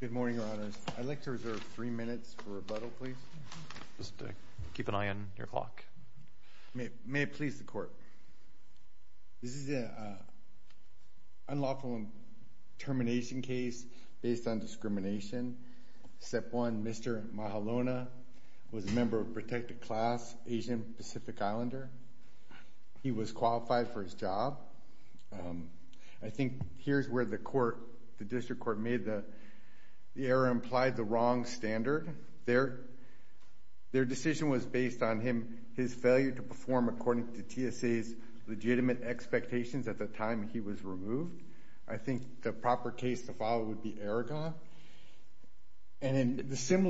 Good morning, Your Honors. I'd like to reserve three minutes for rebuttal, please. Just keep an eye on your clock. May it please the Court. This is an unlawful termination case based on discrimination. Step one, Mr. Mahalona was a member of protected class Asian Pacific Islander. He was qualified for his job. I think here's where the District Court made the error implied the wrong standard. Their decision was based on his failure to perform according to TSA's legitimate expectations at the time he was removed. I think the proper case to follow would be Aragon. Isn't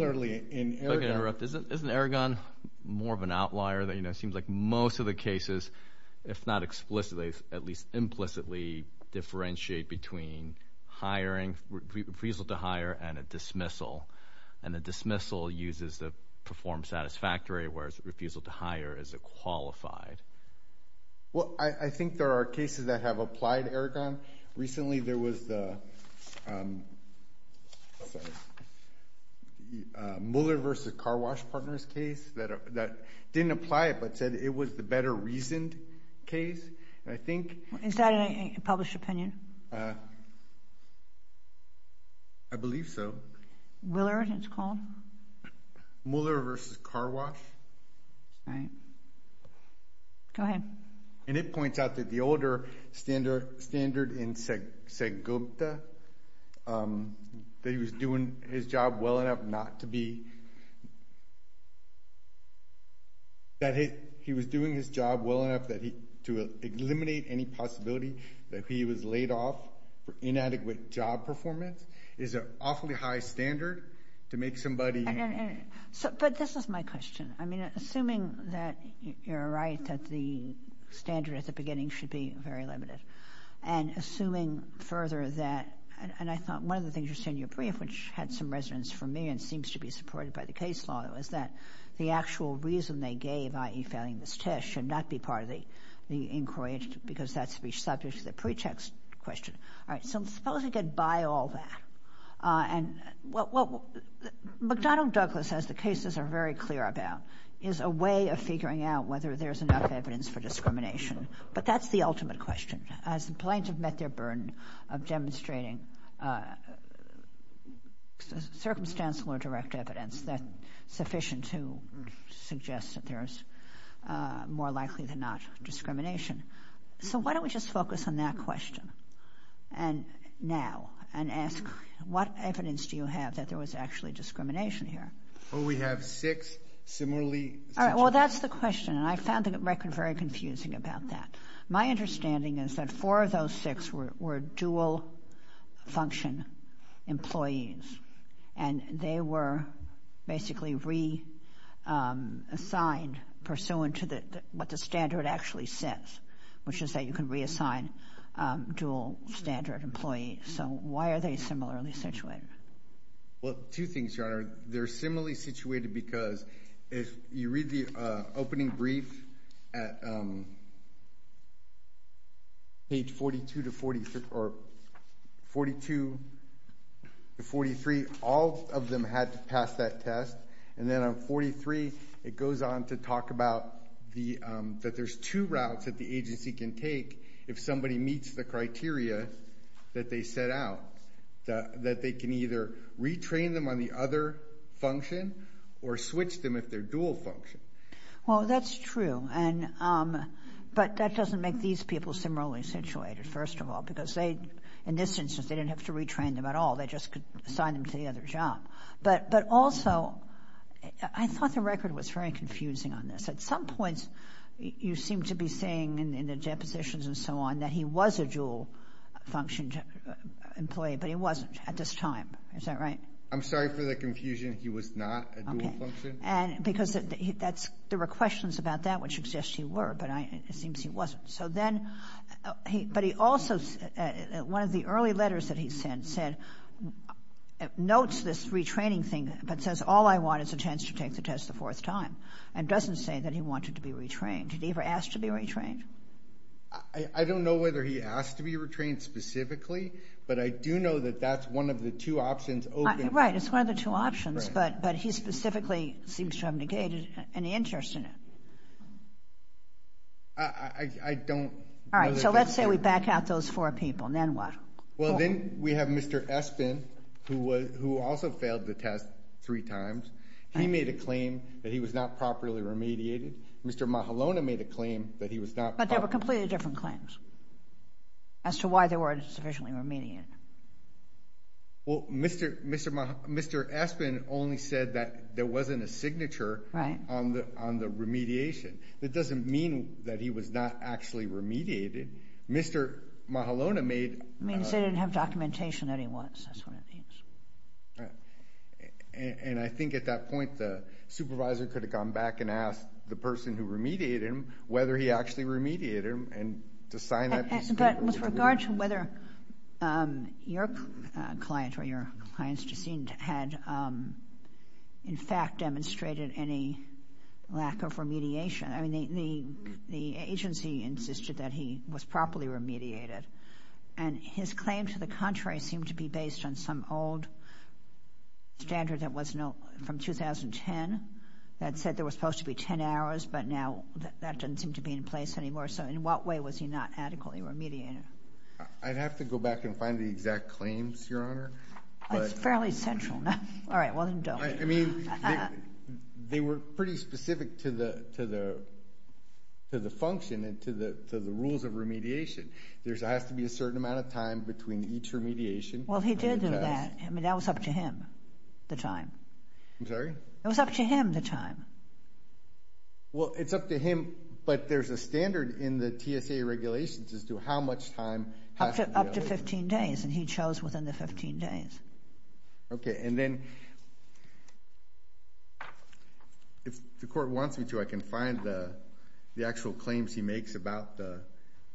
Aragon more of an outlier? It seems like most of the cases, if not explicitly, at least implicitly differentiate between refusal to hire and a dismissal. And a dismissal uses the perform satisfactory, whereas a refusal to hire is a qualified. Well, I think there are cases that have applied Aragon. Recently there was the Mueller v. Car Wash Partners case that didn't apply it but said it was the better reasoned case. Is that a published opinion? I believe so. Willard, it's called? Mueller v. Car Wash. All right. Go ahead. And it points out that the older standard in Segupta, that he was doing his job well enough to eliminate any possibility that he was laid off for inadequate job performance, is an awfully high standard to make somebody— But this is my question. I mean, assuming that you're right that the standard at the beginning should be very limited and assuming further that— And I thought one of the things you said in your brief, which had some resonance for me and seems to be supported by the case law, is that the actual reason they gave, i.e. failing this test, should not be part of the inquiry because that's the subject of the pretext question. All right. So I'm supposed to get by all that. And what McDonnell Douglas says the cases are very clear about is a way of figuring out whether there's enough evidence for discrimination. But that's the ultimate question. As the plaintiff met their burden of demonstrating circumstantial or direct evidence that's sufficient to suggest that there's more likely than not discrimination. So why don't we just focus on that question now and ask what evidence do you have that there was actually discrimination here? Well, we have six similarly— All right. Well, that's the question. And I found the record very confusing about that. My understanding is that four of those six were dual-function employees, and they were basically reassigned pursuant to what the standard actually says, which is that you can reassign dual-standard employees. So why are they similarly situated? Well, two things, Your Honor. They're similarly situated because if you read the opening brief at page 42 to 43, all of them had to pass that test. And then on 43, it goes on to talk about that there's two routes that the agency can take if somebody meets the criteria that they set out, that they can either retrain them on the other function or switch them if they're dual-function. Well, that's true. But that doesn't make these people similarly situated, first of all, because they, in this instance, they didn't have to retrain them at all. They just could assign them to the other job. But also, I thought the record was very confusing on this. At some points, you seem to be saying in the depositions and so on that he was a dual-function employee, but he wasn't at this time. Is that right? I'm sorry for the confusion. He was not a dual-function? Okay. Because there were questions about that, which suggests he were, but it seems he wasn't. But he also, one of the early letters that he sent said, notes this retraining thing, but says, all I want is a chance to take the test a fourth time, and doesn't say that he wanted to be retrained. Did he ever ask to be retrained? I don't know whether he asked to be retrained specifically, but I do know that that's one of the two options open. Right, it's one of the two options, but he specifically seems to have negated any interest in it. I don't know. All right, so let's say we back out those four people, and then what? Well, then we have Mr. Espin, who also failed the test three times. He made a claim that he was not properly remediated. Mr. Mahalona made a claim that he was not. But they were completely different claims as to why they weren't sufficiently remediated. Well, Mr. Espin only said that there wasn't a signature on the remediation. That doesn't mean that he was not actually remediated. Mr. Mahalona made— It means they didn't have documentation that he was. That's one of the things. And I think at that point, the supervisor could have gone back and asked the person who remediated him whether he actually remediated him, and to sign that— But with regard to whether your client or your client's deceased had, in fact, demonstrated any lack of remediation, I mean, the agency insisted that he was properly remediated, and his claim to the contrary seemed to be based on some old standard that was from 2010 that said there was supposed to be 10 hours, but now that doesn't seem to be in place anymore. So in what way was he not adequately remediated? I'd have to go back and find the exact claims, Your Honor. That's fairly central. All right, well, then don't. I mean, they were pretty specific to the function and to the rules of remediation. There has to be a certain amount of time between each remediation. Well, he did do that. I mean, that was up to him, the time. I'm sorry? It was up to him, the time. Well, it's up to him, but there's a standard in the TSA regulations as to how much time— Up to 15 days, and he chose within the 15 days. Okay, and then if the court wants me to, I can find the actual claims he makes about the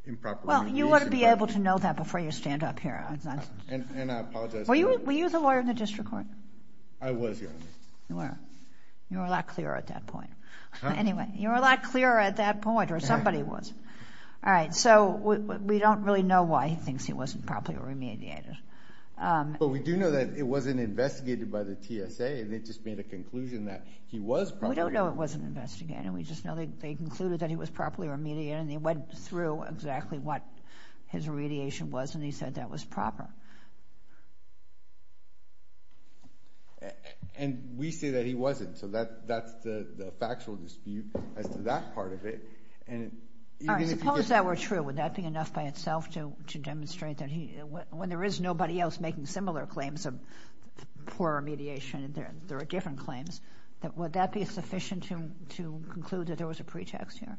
improper remediation. Well, you ought to be able to know that before you stand up here. And I apologize— Were you the lawyer in the district court? I was, Your Honor. You were a lot clearer at that point. Anyway, you were a lot clearer at that point, or somebody was. All right, so we don't really know why he thinks he wasn't properly remediated. But we do know that it wasn't investigated by the TSA, and they just made a conclusion that he was properly— We don't know it wasn't investigated. We just know they concluded that he was properly remediated, and they went through exactly what his remediation was, and he said that was proper. And we say that he wasn't, so that's the factual dispute as to that part of it. All right, suppose that were true. Would that be enough by itself to demonstrate that he— When there is nobody else making similar claims of poor remediation, there are different claims. Would that be sufficient to conclude that there was a pretext here?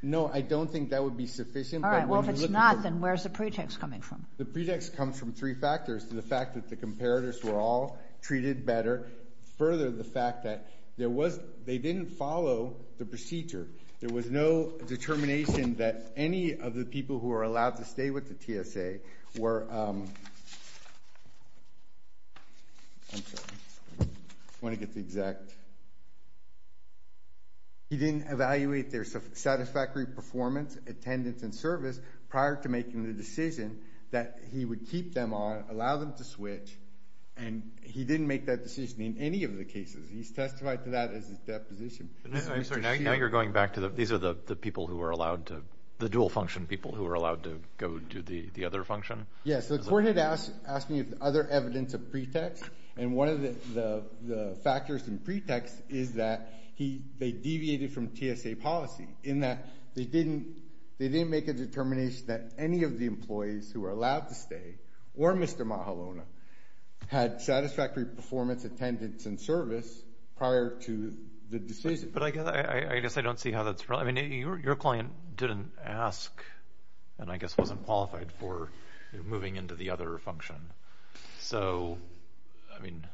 No, I don't think that would be sufficient. All right, well, if it's not, then where's the pretext coming from? The pretext comes from three factors to the fact that the comparators were all treated better. Further, the fact that there was—they didn't follow the procedure. There was no determination that any of the people who were allowed to stay with the TSA were— I'm sorry. I want to get the exact— He didn't evaluate their satisfactory performance, attendance, and service prior to making the decision that he would keep them on, allow them to switch, and he didn't make that decision in any of the cases. He's testified to that as his deposition. I'm sorry. Now you're going back to the—these are the people who were allowed to— the dual-function people who were allowed to go to the other function? Yeah, so the court had asked me if there was other evidence of pretext, and one of the factors and pretext is that they deviated from TSA policy in that they didn't make a determination that any of the employees who were allowed to stay, or Mr. Mahalona, had satisfactory performance, attendance, and service prior to the decision. But I guess I don't see how that's—I mean, your client didn't ask and I guess wasn't qualified for moving into the other function. So, I mean,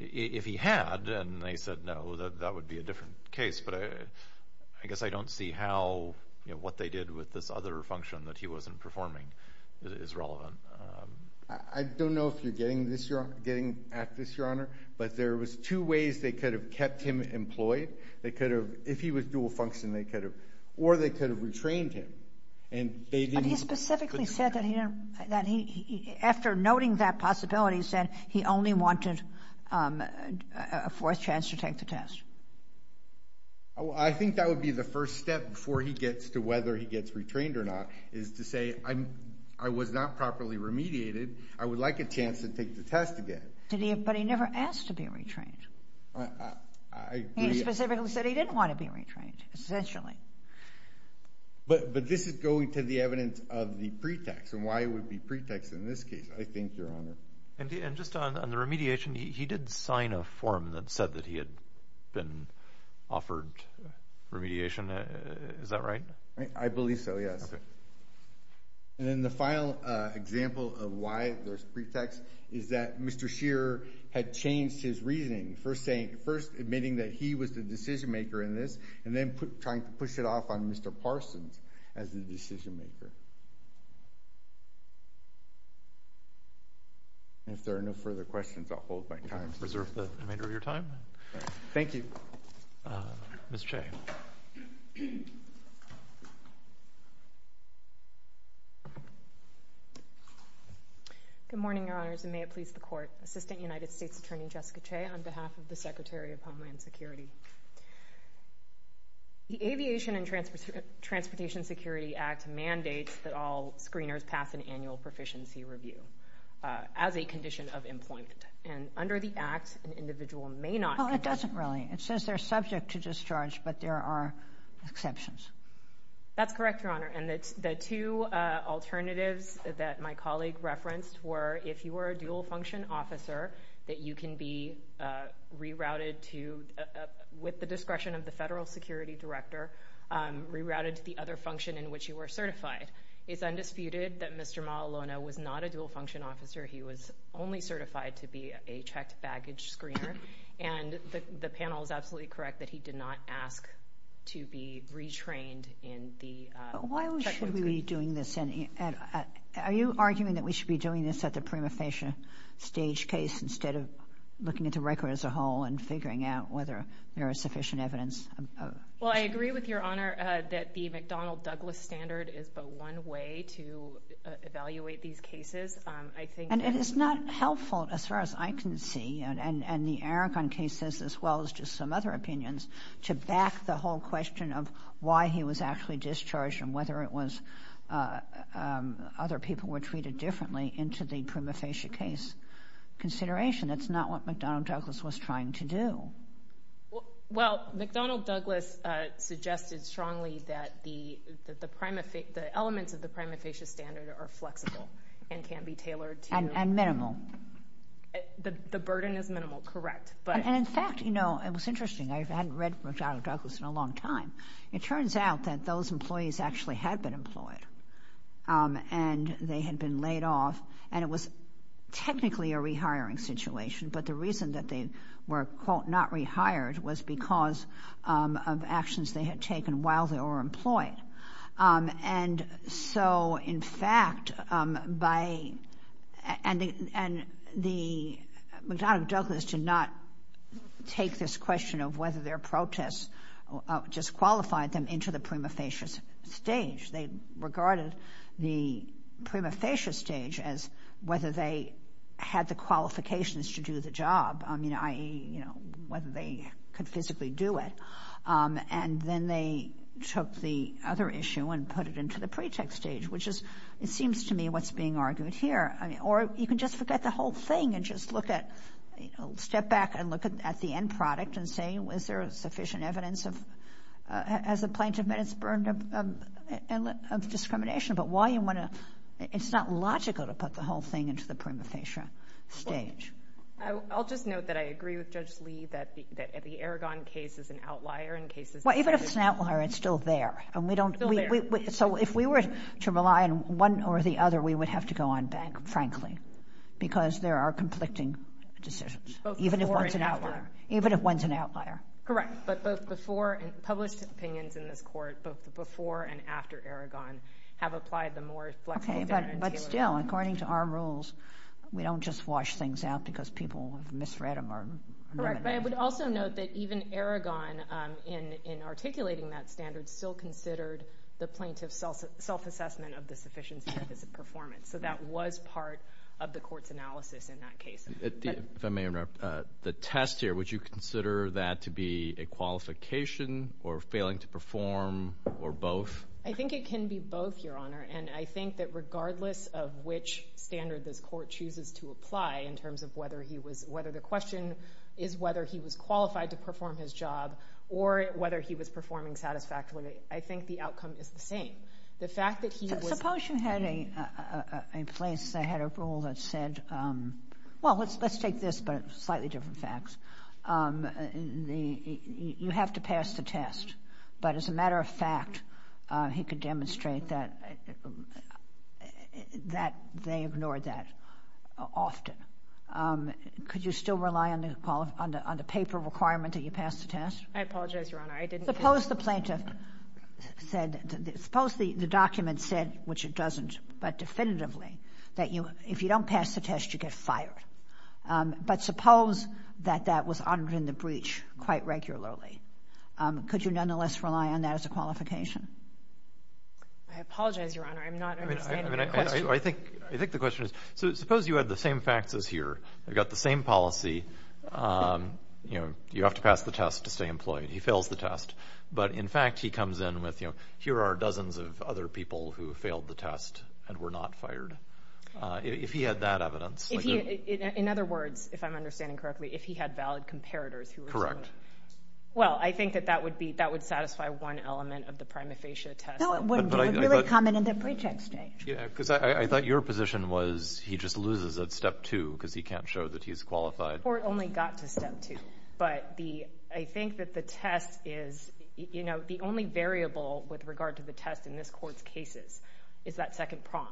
if he had and they said no, that would be a different case. But I guess I don't see how—what they did with this other function that he wasn't performing that is relevant. I don't know if you're getting this—getting at this, Your Honor, but there was two ways they could have kept him employed. They could have—if he was dual-function, they could have—or they could have retrained him. But he specifically said that he—after noting that possibility, he said he only wanted a fourth chance to take the test. I think that would be the first step before he gets to whether he gets retrained or not, is to say, I was not properly remediated. I would like a chance to take the test again. But he never asked to be retrained. He specifically said he didn't want to be retrained, essentially. But this is going to the evidence of the pretext and why it would be pretext in this case, I think, Your Honor. And just on the remediation, he did sign a form that said that he had been offered remediation. Is that right? I believe so, yes. Okay. And then the final example of why there's pretext is that Mr. Scheer had changed his reasoning, first saying—first admitting that he was the decision-maker in this and then trying to push it off on Mr. Parsons as the decision-maker. If there are no further questions, I'll hold my time. Reserve the remainder of your time. Thank you. Ms. Che. Good morning, Your Honors, and may it please the Court. Assistant United States Attorney Jessica Che on behalf of the Secretary of Homeland Security. The Aviation and Transportation Security Act mandates that all screeners pass an annual proficiency review as a condition of employment. And under the Act, an individual may not— Well, it doesn't really. It says they're subject to discharge, but there are exceptions. That's correct, Your Honor. And the two alternatives that my colleague referenced were if you were a dual-function officer, that you can be rerouted to—with the discretion of the federal security director, rerouted to the other function in which you were certified. It's undisputed that Mr. Malolono was not a dual-function officer. He was only certified to be a checked baggage screener. And the panel is absolutely correct that he did not ask to be retrained in the— Why should we be doing this? Are you arguing that we should be doing this at the prima facie stage case instead of looking at the record as a whole and figuring out whether there is sufficient evidence? Well, I agree with Your Honor that the McDonnell-Douglas standard is but one way to evaluate these cases. I think— And it is not helpful, as far as I can see, and the Aragon case says as well as just some other opinions, to back the whole question of why he was actually discharged and whether it was other people were treated differently into the prima facie case consideration. That's not what McDonnell-Douglas was trying to do. Well, McDonnell-Douglas suggested strongly that the elements of the prima facie standard are flexible and can be tailored to— And minimal. The burden is minimal, correct. And in fact, you know, it was interesting. I hadn't read McDonnell-Douglas in a long time. It turns out that those employees actually had been employed, and they had been laid off, and it was technically a rehiring situation, but the reason that they were, quote, not rehired was because of actions they had taken while they were employed. And so, in fact, by— And the—McDonnell-Douglas did not take this question of whether their protests just qualified them into the prima facie stage. They regarded the prima facie stage as whether they had the qualifications to do the job, i.e., you know, whether they could physically do it. And then they took the other issue and put it into the pretext stage, which is, it seems to me, what's being argued here. Or you can just forget the whole thing and just look at—step back and look at the end product and say, is there sufficient evidence of—as a plaintiff, that it's burden of discrimination? But why you want to—it's not logical to put the whole thing into the prima facie stage. I'll just note that I agree with Judge Lee that the Aragon case is an outlier in cases— Well, even if it's an outlier, it's still there. And we don't— It's still there. So if we were to rely on one or the other, we would have to go on bank, frankly, because there are conflicting decisions. Both before and after. Even if one's an outlier. Even if one's an outlier. Correct. But both before and—published opinions in this Court, both before and after Aragon, have applied the more flexible— Okay, but still, according to our rules, we don't just wash things out because people misread them or— Correct. But I would also note that even Aragon, in articulating that standard, still considered the plaintiff's self-assessment of the sufficiency of his performance. So that was part of the Court's analysis in that case. If I may interrupt, the test here, would you consider that to be a qualification or failing to perform or both? I think it can be both, Your Honor. And I think that regardless of which standard this Court chooses to apply in terms of whether he was—whether the question is whether he was qualified to perform his job or whether he was performing satisfactorily, I think the outcome is the same. The fact that he was— Suppose you had a place that had a rule that said—well, let's take this, but slightly different facts. You have to pass the test. But as a matter of fact, he could demonstrate that they ignored that often. Could you still rely on the paper requirement that you pass the test? I apologize, Your Honor. I didn't— Suppose the plaintiff said—suppose the document said, which it doesn't, but definitively, that if you don't pass the test, you get fired. But suppose that that was honored in the breach quite regularly. Could you nonetheless rely on that as a qualification? I apologize, Your Honor. I'm not understanding your question. I think the question is—suppose you had the same facts as here. You've got the same policy. You have to pass the test to stay employed. He fails the test. But in fact, he comes in with, you know, here are dozens of other people who failed the test and were not fired. If he had that evidence— In other words, if I'm understanding correctly, if he had valid comparators who were— Well, I think that that would be—that would satisfy one element of the prima facie test. No, it wouldn't. It would really come in at the pre-check stage. Yeah, because I thought your position was he just loses at step two because he can't show that he's qualified. The court only got to step two. But I think that the test is—you know, the only variable with regard to the test in this court's cases is that second prong,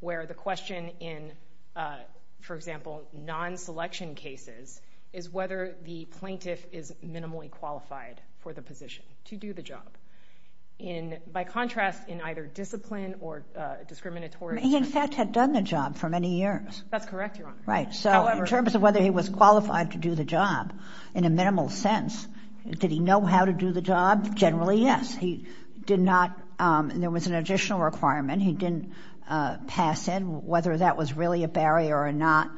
where the question in, for example, non-selection cases is whether the plaintiff is minimally qualified for the position to do the job. In—by contrast, in either discipline or discriminatory— He, in fact, had done the job for many years. That's correct, Your Honor. Right, so in terms of whether he was qualified to do the job in a minimal sense, did he know how to do the job? Generally, yes. He did not—there was an additional requirement. He didn't pass in. Whether that was really a barrier or not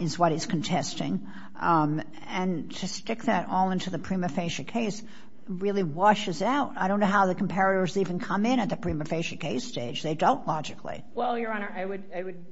is what is contesting. And to stick that all into the prima facie case really washes out. I don't know how the comparators even come in at the prima facie case stage. They don't, logically. Well, Your Honor, I would—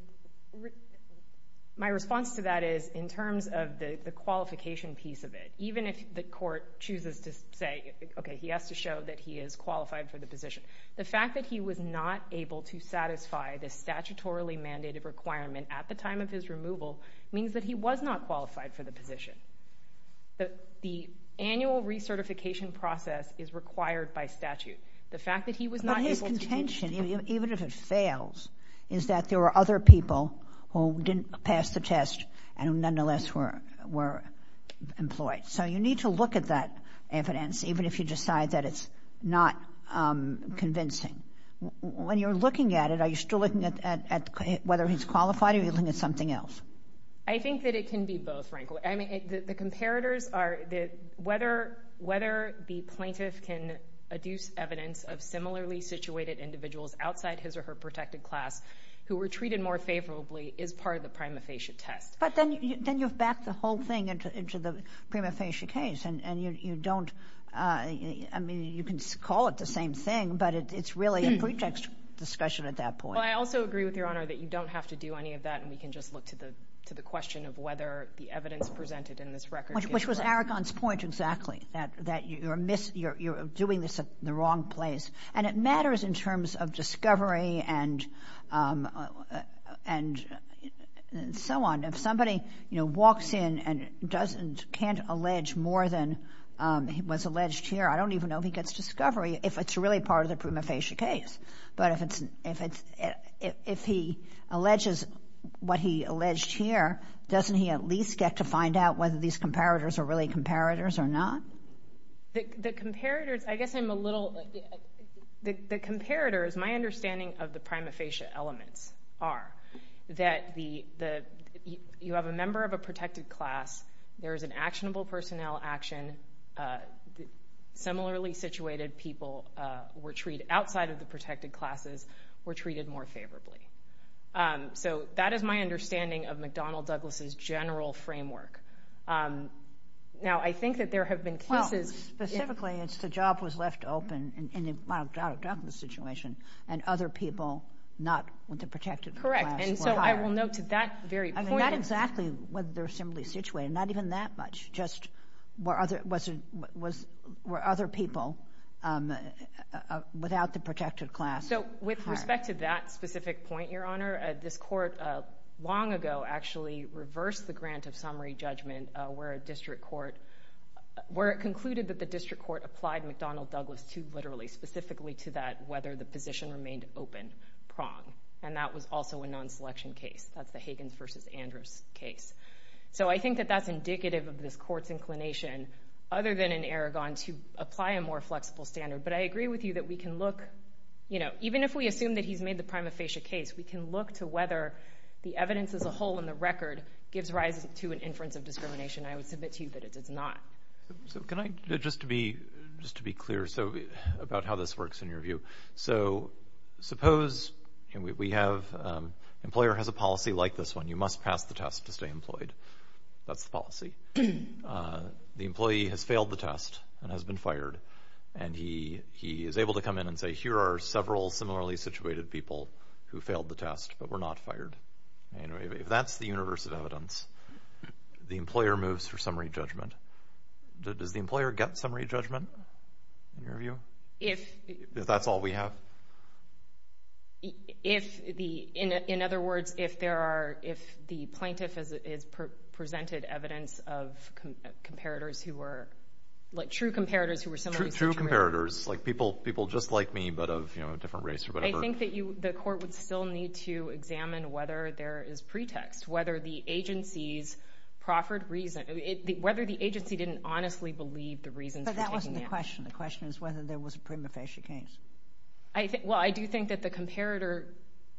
my response to that is in terms of the qualification piece of it, even if the court chooses to say, okay, he has to show that he is qualified for the position, the fact that he was not able to satisfy the statutorily mandated requirement at the time of his removal means that he was not qualified for the position. The annual recertification process is required by statute. The fact that he was not able to— But his contention, even if it fails, is that there were other people who didn't pass the test and nonetheless were employed. So you need to look at that evidence, even if you decide that it's not convincing. When you're looking at it, are you still looking at whether he's qualified or are you looking at something else? I think that it can be both, frankly. I mean, the comparators are whether the plaintiff can adduce evidence of similarly situated individuals outside his or her protected class who were treated more favorably is part of the prima facie test. But then you've backed the whole thing into the prima facie case, and you don't—I mean, you can call it the same thing, but it's really a pretext discussion at that point. Well, I also agree with Your Honor that you don't have to do any of that, and we can just look to the question of whether the evidence presented in this record— Which was Aragon's point exactly, that you're doing this in the wrong place. And it matters in terms of discovery and so on. If somebody walks in and can't allege more than was alleged here, I don't even know if he gets discovery if it's really part of the prima facie case. But if he alleges what he alleged here, doesn't he at least get to find out whether these comparators are really comparators or not? The comparators—I guess I'm a little— The comparators, my understanding of the prima facie elements, are that you have a member of a protected class, there is an actionable personnel action, similarly situated people were treated— outside of the protected classes were treated more favorably. So that is my understanding of McDonnell-Douglas's general framework. Now, I think that there have been cases— Well, specifically, it's the job was left open in the McDonnell-Douglas situation, and other people not with the protected class were hired. Correct, and so I will note to that very point— whether they're similarly situated, not even that much, just were other people without the protected class hired. So with respect to that specific point, Your Honor, this court long ago actually reversed the grant of summary judgment where a district court— where it concluded that the district court applied McDonnell-Douglas too literally, specifically to that whether the position remained open prong, and that was also a non-selection case. That's the Higgins v. Andrews case. So I think that that's indicative of this court's inclination, other than in Aragon, to apply a more flexible standard. But I agree with you that we can look— even if we assume that he's made the prima facie case, we can look to whether the evidence as a whole in the record gives rise to an inference of discrimination. I would submit to you that it does not. So can I—just to be clear about how this works in your view. So suppose we have— an employer has a policy like this one, you must pass the test to stay employed. That's the policy. The employee has failed the test and has been fired, and he is able to come in and say, here are several similarly situated people who failed the test, but were not fired. If that's the universe of evidence, the employer moves for summary judgment. Does the employer get summary judgment in your view? If— If that's all we have? If the—in other words, if there are— if the plaintiff has presented evidence of comparators who were— like true comparators who were similarly situated. True comparators, like people just like me, but of a different race or whatever. I think that the court would still need to examine whether there is pretext, whether the agency's proffered reason— whether the agency didn't honestly believe the reasons for taking it. That wasn't the question. The question is whether there was a prima facie case. Well, I do think that the comparator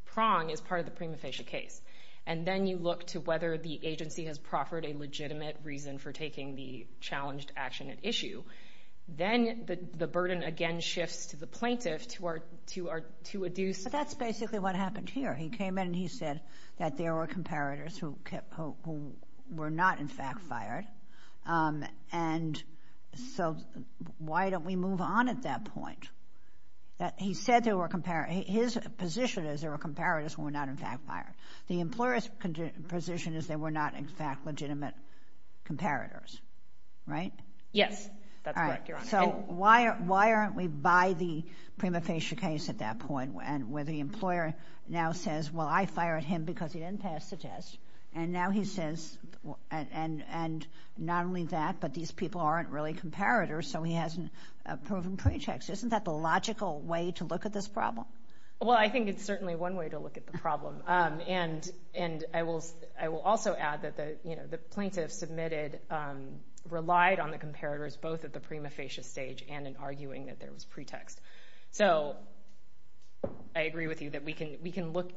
prong is part of the prima facie case, and then you look to whether the agency has proffered a legitimate reason for taking the challenged action at issue. Then the burden again shifts to the plaintiff to adduce— That's basically what happened here. He came in and he said that there were comparators who were not in fact fired, and so why don't we move on at that point? He said there were—his position is there were comparators who were not in fact fired. The employer's position is there were not in fact legitimate comparators, right? Yes, that's correct, Your Honor. So why aren't we by the prima facie case at that point where the employer now says, well, I fired him because he didn't pass the test, and now he says—and not only that, but these people aren't really comparators, so he hasn't proven pretext. Isn't that the logical way to look at this problem? Well, I think it's certainly one way to look at the problem, and I will also add that the plaintiff submitted— relied on the comparators both at the prima facie stage and in arguing that there was pretext. So I agree with you that we can look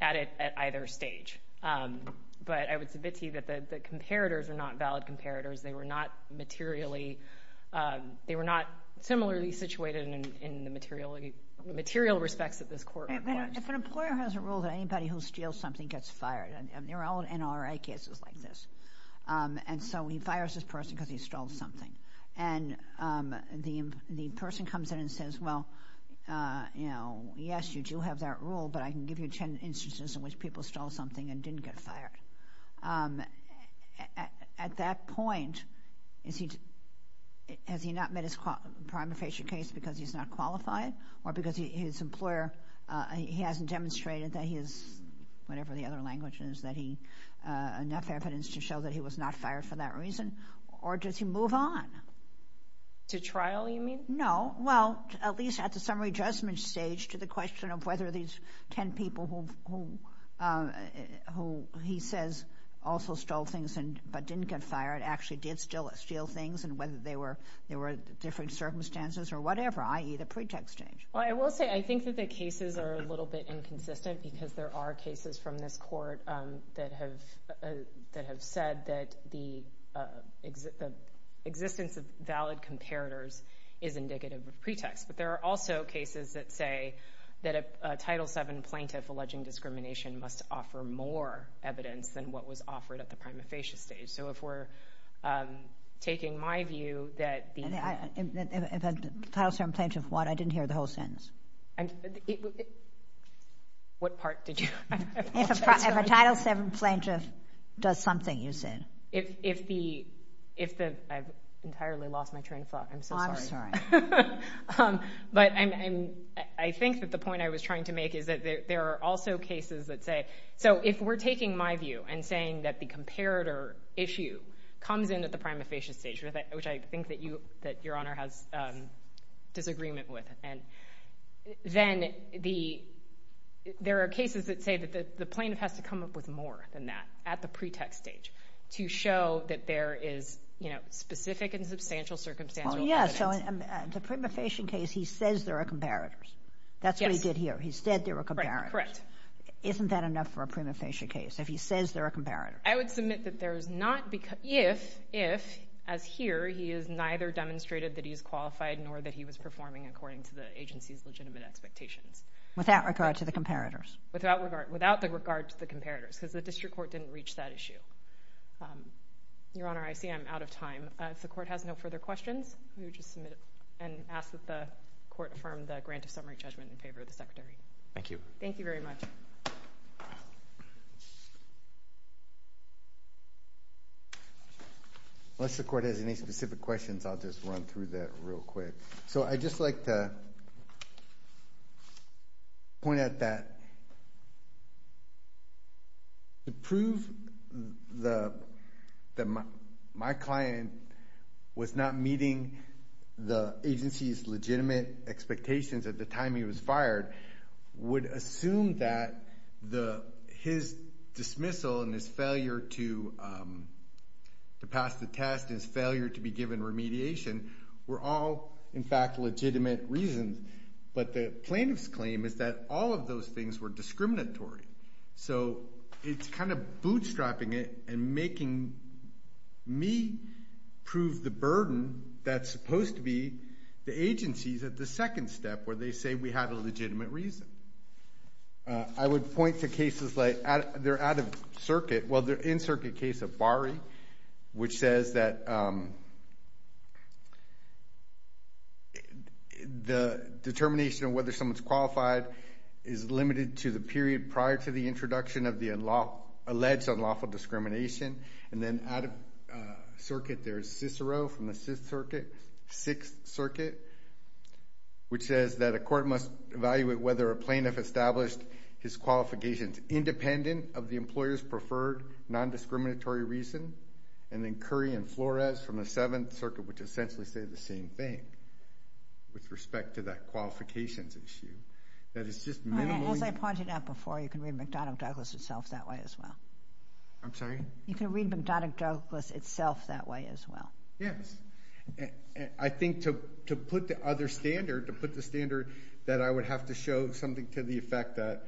at it at either stage, but I would submit to you that the comparators are not valid comparators. They were not materially—they were not similarly situated in the material respects that this court requires. If an employer has a rule that anybody who steals something gets fired, and they're all NRA cases like this, and so he fires this person because he stole something, and the person comes in and says, well, you know, yes, you do have that rule, but I can give you ten instances in which people stole something and didn't get fired. At that point, has he not met his prima facie case because he's not qualified, or because his employer—he hasn't demonstrated that he is, whatever the other language is, that he—enough evidence to show that he was not fired for that reason, or does he move on? To trial, you mean? No. Well, at least at the summary judgment stage to the question of whether these ten people who he says also stole things but didn't get fired actually did steal things and whether there were different circumstances or whatever, i.e., the pretext stage. Well, I will say I think that the cases are a little bit inconsistent because there are cases from this court that have said that the existence of valid comparators is indicative of pretext, but there are also cases that say that a Title VII plaintiff alleging discrimination must offer more evidence than what was offered at the prima facie stage. So if we're taking my view that— Title VII plaintiff what? I didn't hear the whole sentence. What part did you— If a Title VII plaintiff does something, you said. If the—I've entirely lost my train of thought. I'm so sorry. I'm sorry. But I think that the point I was trying to make is that there are also cases that say— so if we're taking my view and saying that the comparator issue comes in at the prima facie stage, which I think that Your Honor has disagreement with, then there are cases that say that the plaintiff has to come up with more than that at the pretext stage to show that there is specific and substantial circumstantial evidence. Well, yeah. So in the prima facie case, he says there are comparators. That's what he did here. He said there were comparators. Correct. Isn't that enough for a prima facie case if he says there are comparators? I would submit that there is not—if, as here, he has neither demonstrated that he is qualified nor that he was performing according to the agency's legitimate expectations. Without regard to the comparators. Without regard to the comparators because the district court didn't reach that issue. Your Honor, I see I'm out of time. If the court has no further questions, let me just submit and ask that the court affirm the grant of summary judgment in favor of the Secretary. Thank you. Thank you very much. Unless the court has any specific questions, I'll just run through that real quick. So I'd just like to point out that to prove that my client was not meeting the agency's legitimate expectations at the time he was fired would assume that his dismissal and his failure to pass the test, his failure to be given remediation were all, in fact, legitimate reasons. But the plaintiff's claim is that all of those things were discriminatory. So it's kind of bootstrapping it and making me prove the burden that's supposed to be the agency's at the second step where they say we have a legitimate reason. I would point to cases like they're out of circuit. Well, they're in circuit case of Bari, which says that the determination of whether someone's qualified is limited to the period prior to the introduction of the alleged unlawful discrimination. And then out of circuit there is Cicero from the Sixth Circuit, which says that a court must evaluate whether a plaintiff established his qualifications independent of the employer's preferred nondiscriminatory reason. And then Curry and Flores from the Seventh Circuit, which essentially say the same thing with respect to that qualifications issue. As I pointed out before, you can read McDonough Douglas itself that way as well. I'm sorry? You can read McDonough Douglas itself that way as well. Yes. I think to put the other standard, to put the standard that I would have to show something to the effect that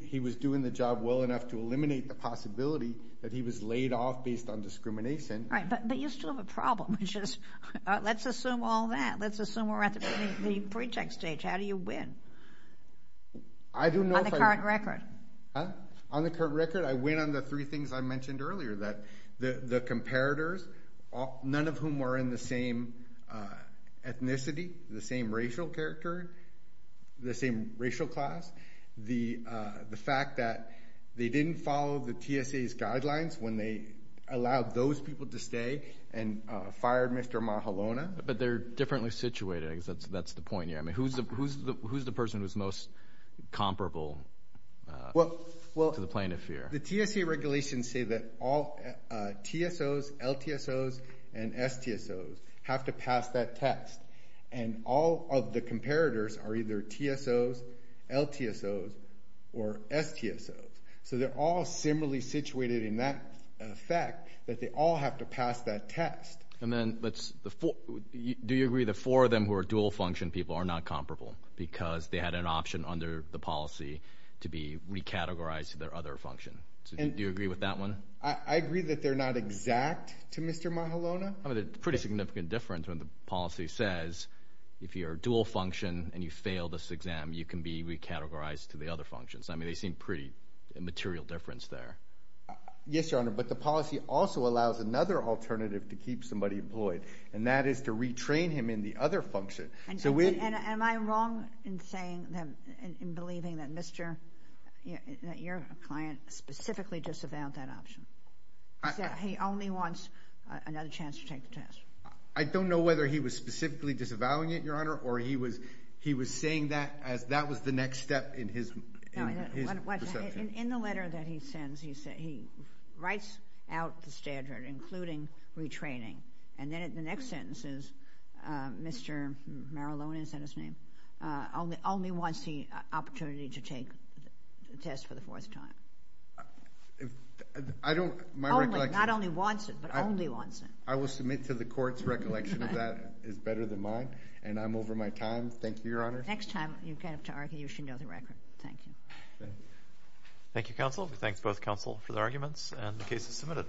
he was doing the job well enough to eliminate the possibility that he was laid off based on discrimination. Right, but you still have a problem, which is let's assume all that. Let's assume we're at the pre-check stage. How do you win on the current record? On the current record, I win on the three things I mentioned earlier, that the comparators, none of whom were in the same ethnicity, the same racial character, the same racial class, the fact that they didn't follow the TSA's guidelines when they allowed those people to stay and fired Mr. Mahalona. But they're differently situated. I guess that's the point here. I mean, who's the person who's most comparable to the plaintiff here? The TSA regulations say that all TSOs, LTSOs, and STSOs have to pass that test. And all of the comparators are either TSOs, LTSOs, or STSOs. So they're all similarly situated in that fact that they all have to pass that test. And then do you agree the four of them who are dual function people are not comparable because they had an option under the policy to be recategorized to their other function? Do you agree with that one? I agree that they're not exact to Mr. Mahalona. I mean, there's a pretty significant difference when the policy says, if you're dual function and you fail this exam, you can be recategorized to the other functions. I mean, they seem pretty immaterial difference there. Yes, Your Honor, but the policy also allows another alternative to keep somebody employed, and that is to retrain him in the other function. Am I wrong in believing that your client specifically disavowed that option? He only wants another chance to take the test. I don't know whether he was specifically disavowing it, Your Honor, or he was saying that as that was the next step in his perception. In the letter that he sends, he writes out the standard, including retraining. And then in the next sentence, Mr. Mahalona, is that his name, only wants the opportunity to take the test for the fourth time. Not only wants it, but only wants it. I will submit to the court's recollection that that is better than mine, and I'm over my time. Thank you, Your Honor. Next time you get up to argue, you should know the record. Thank you. Thank you, counsel. We thank both counsel for the arguments, and the case is submitted.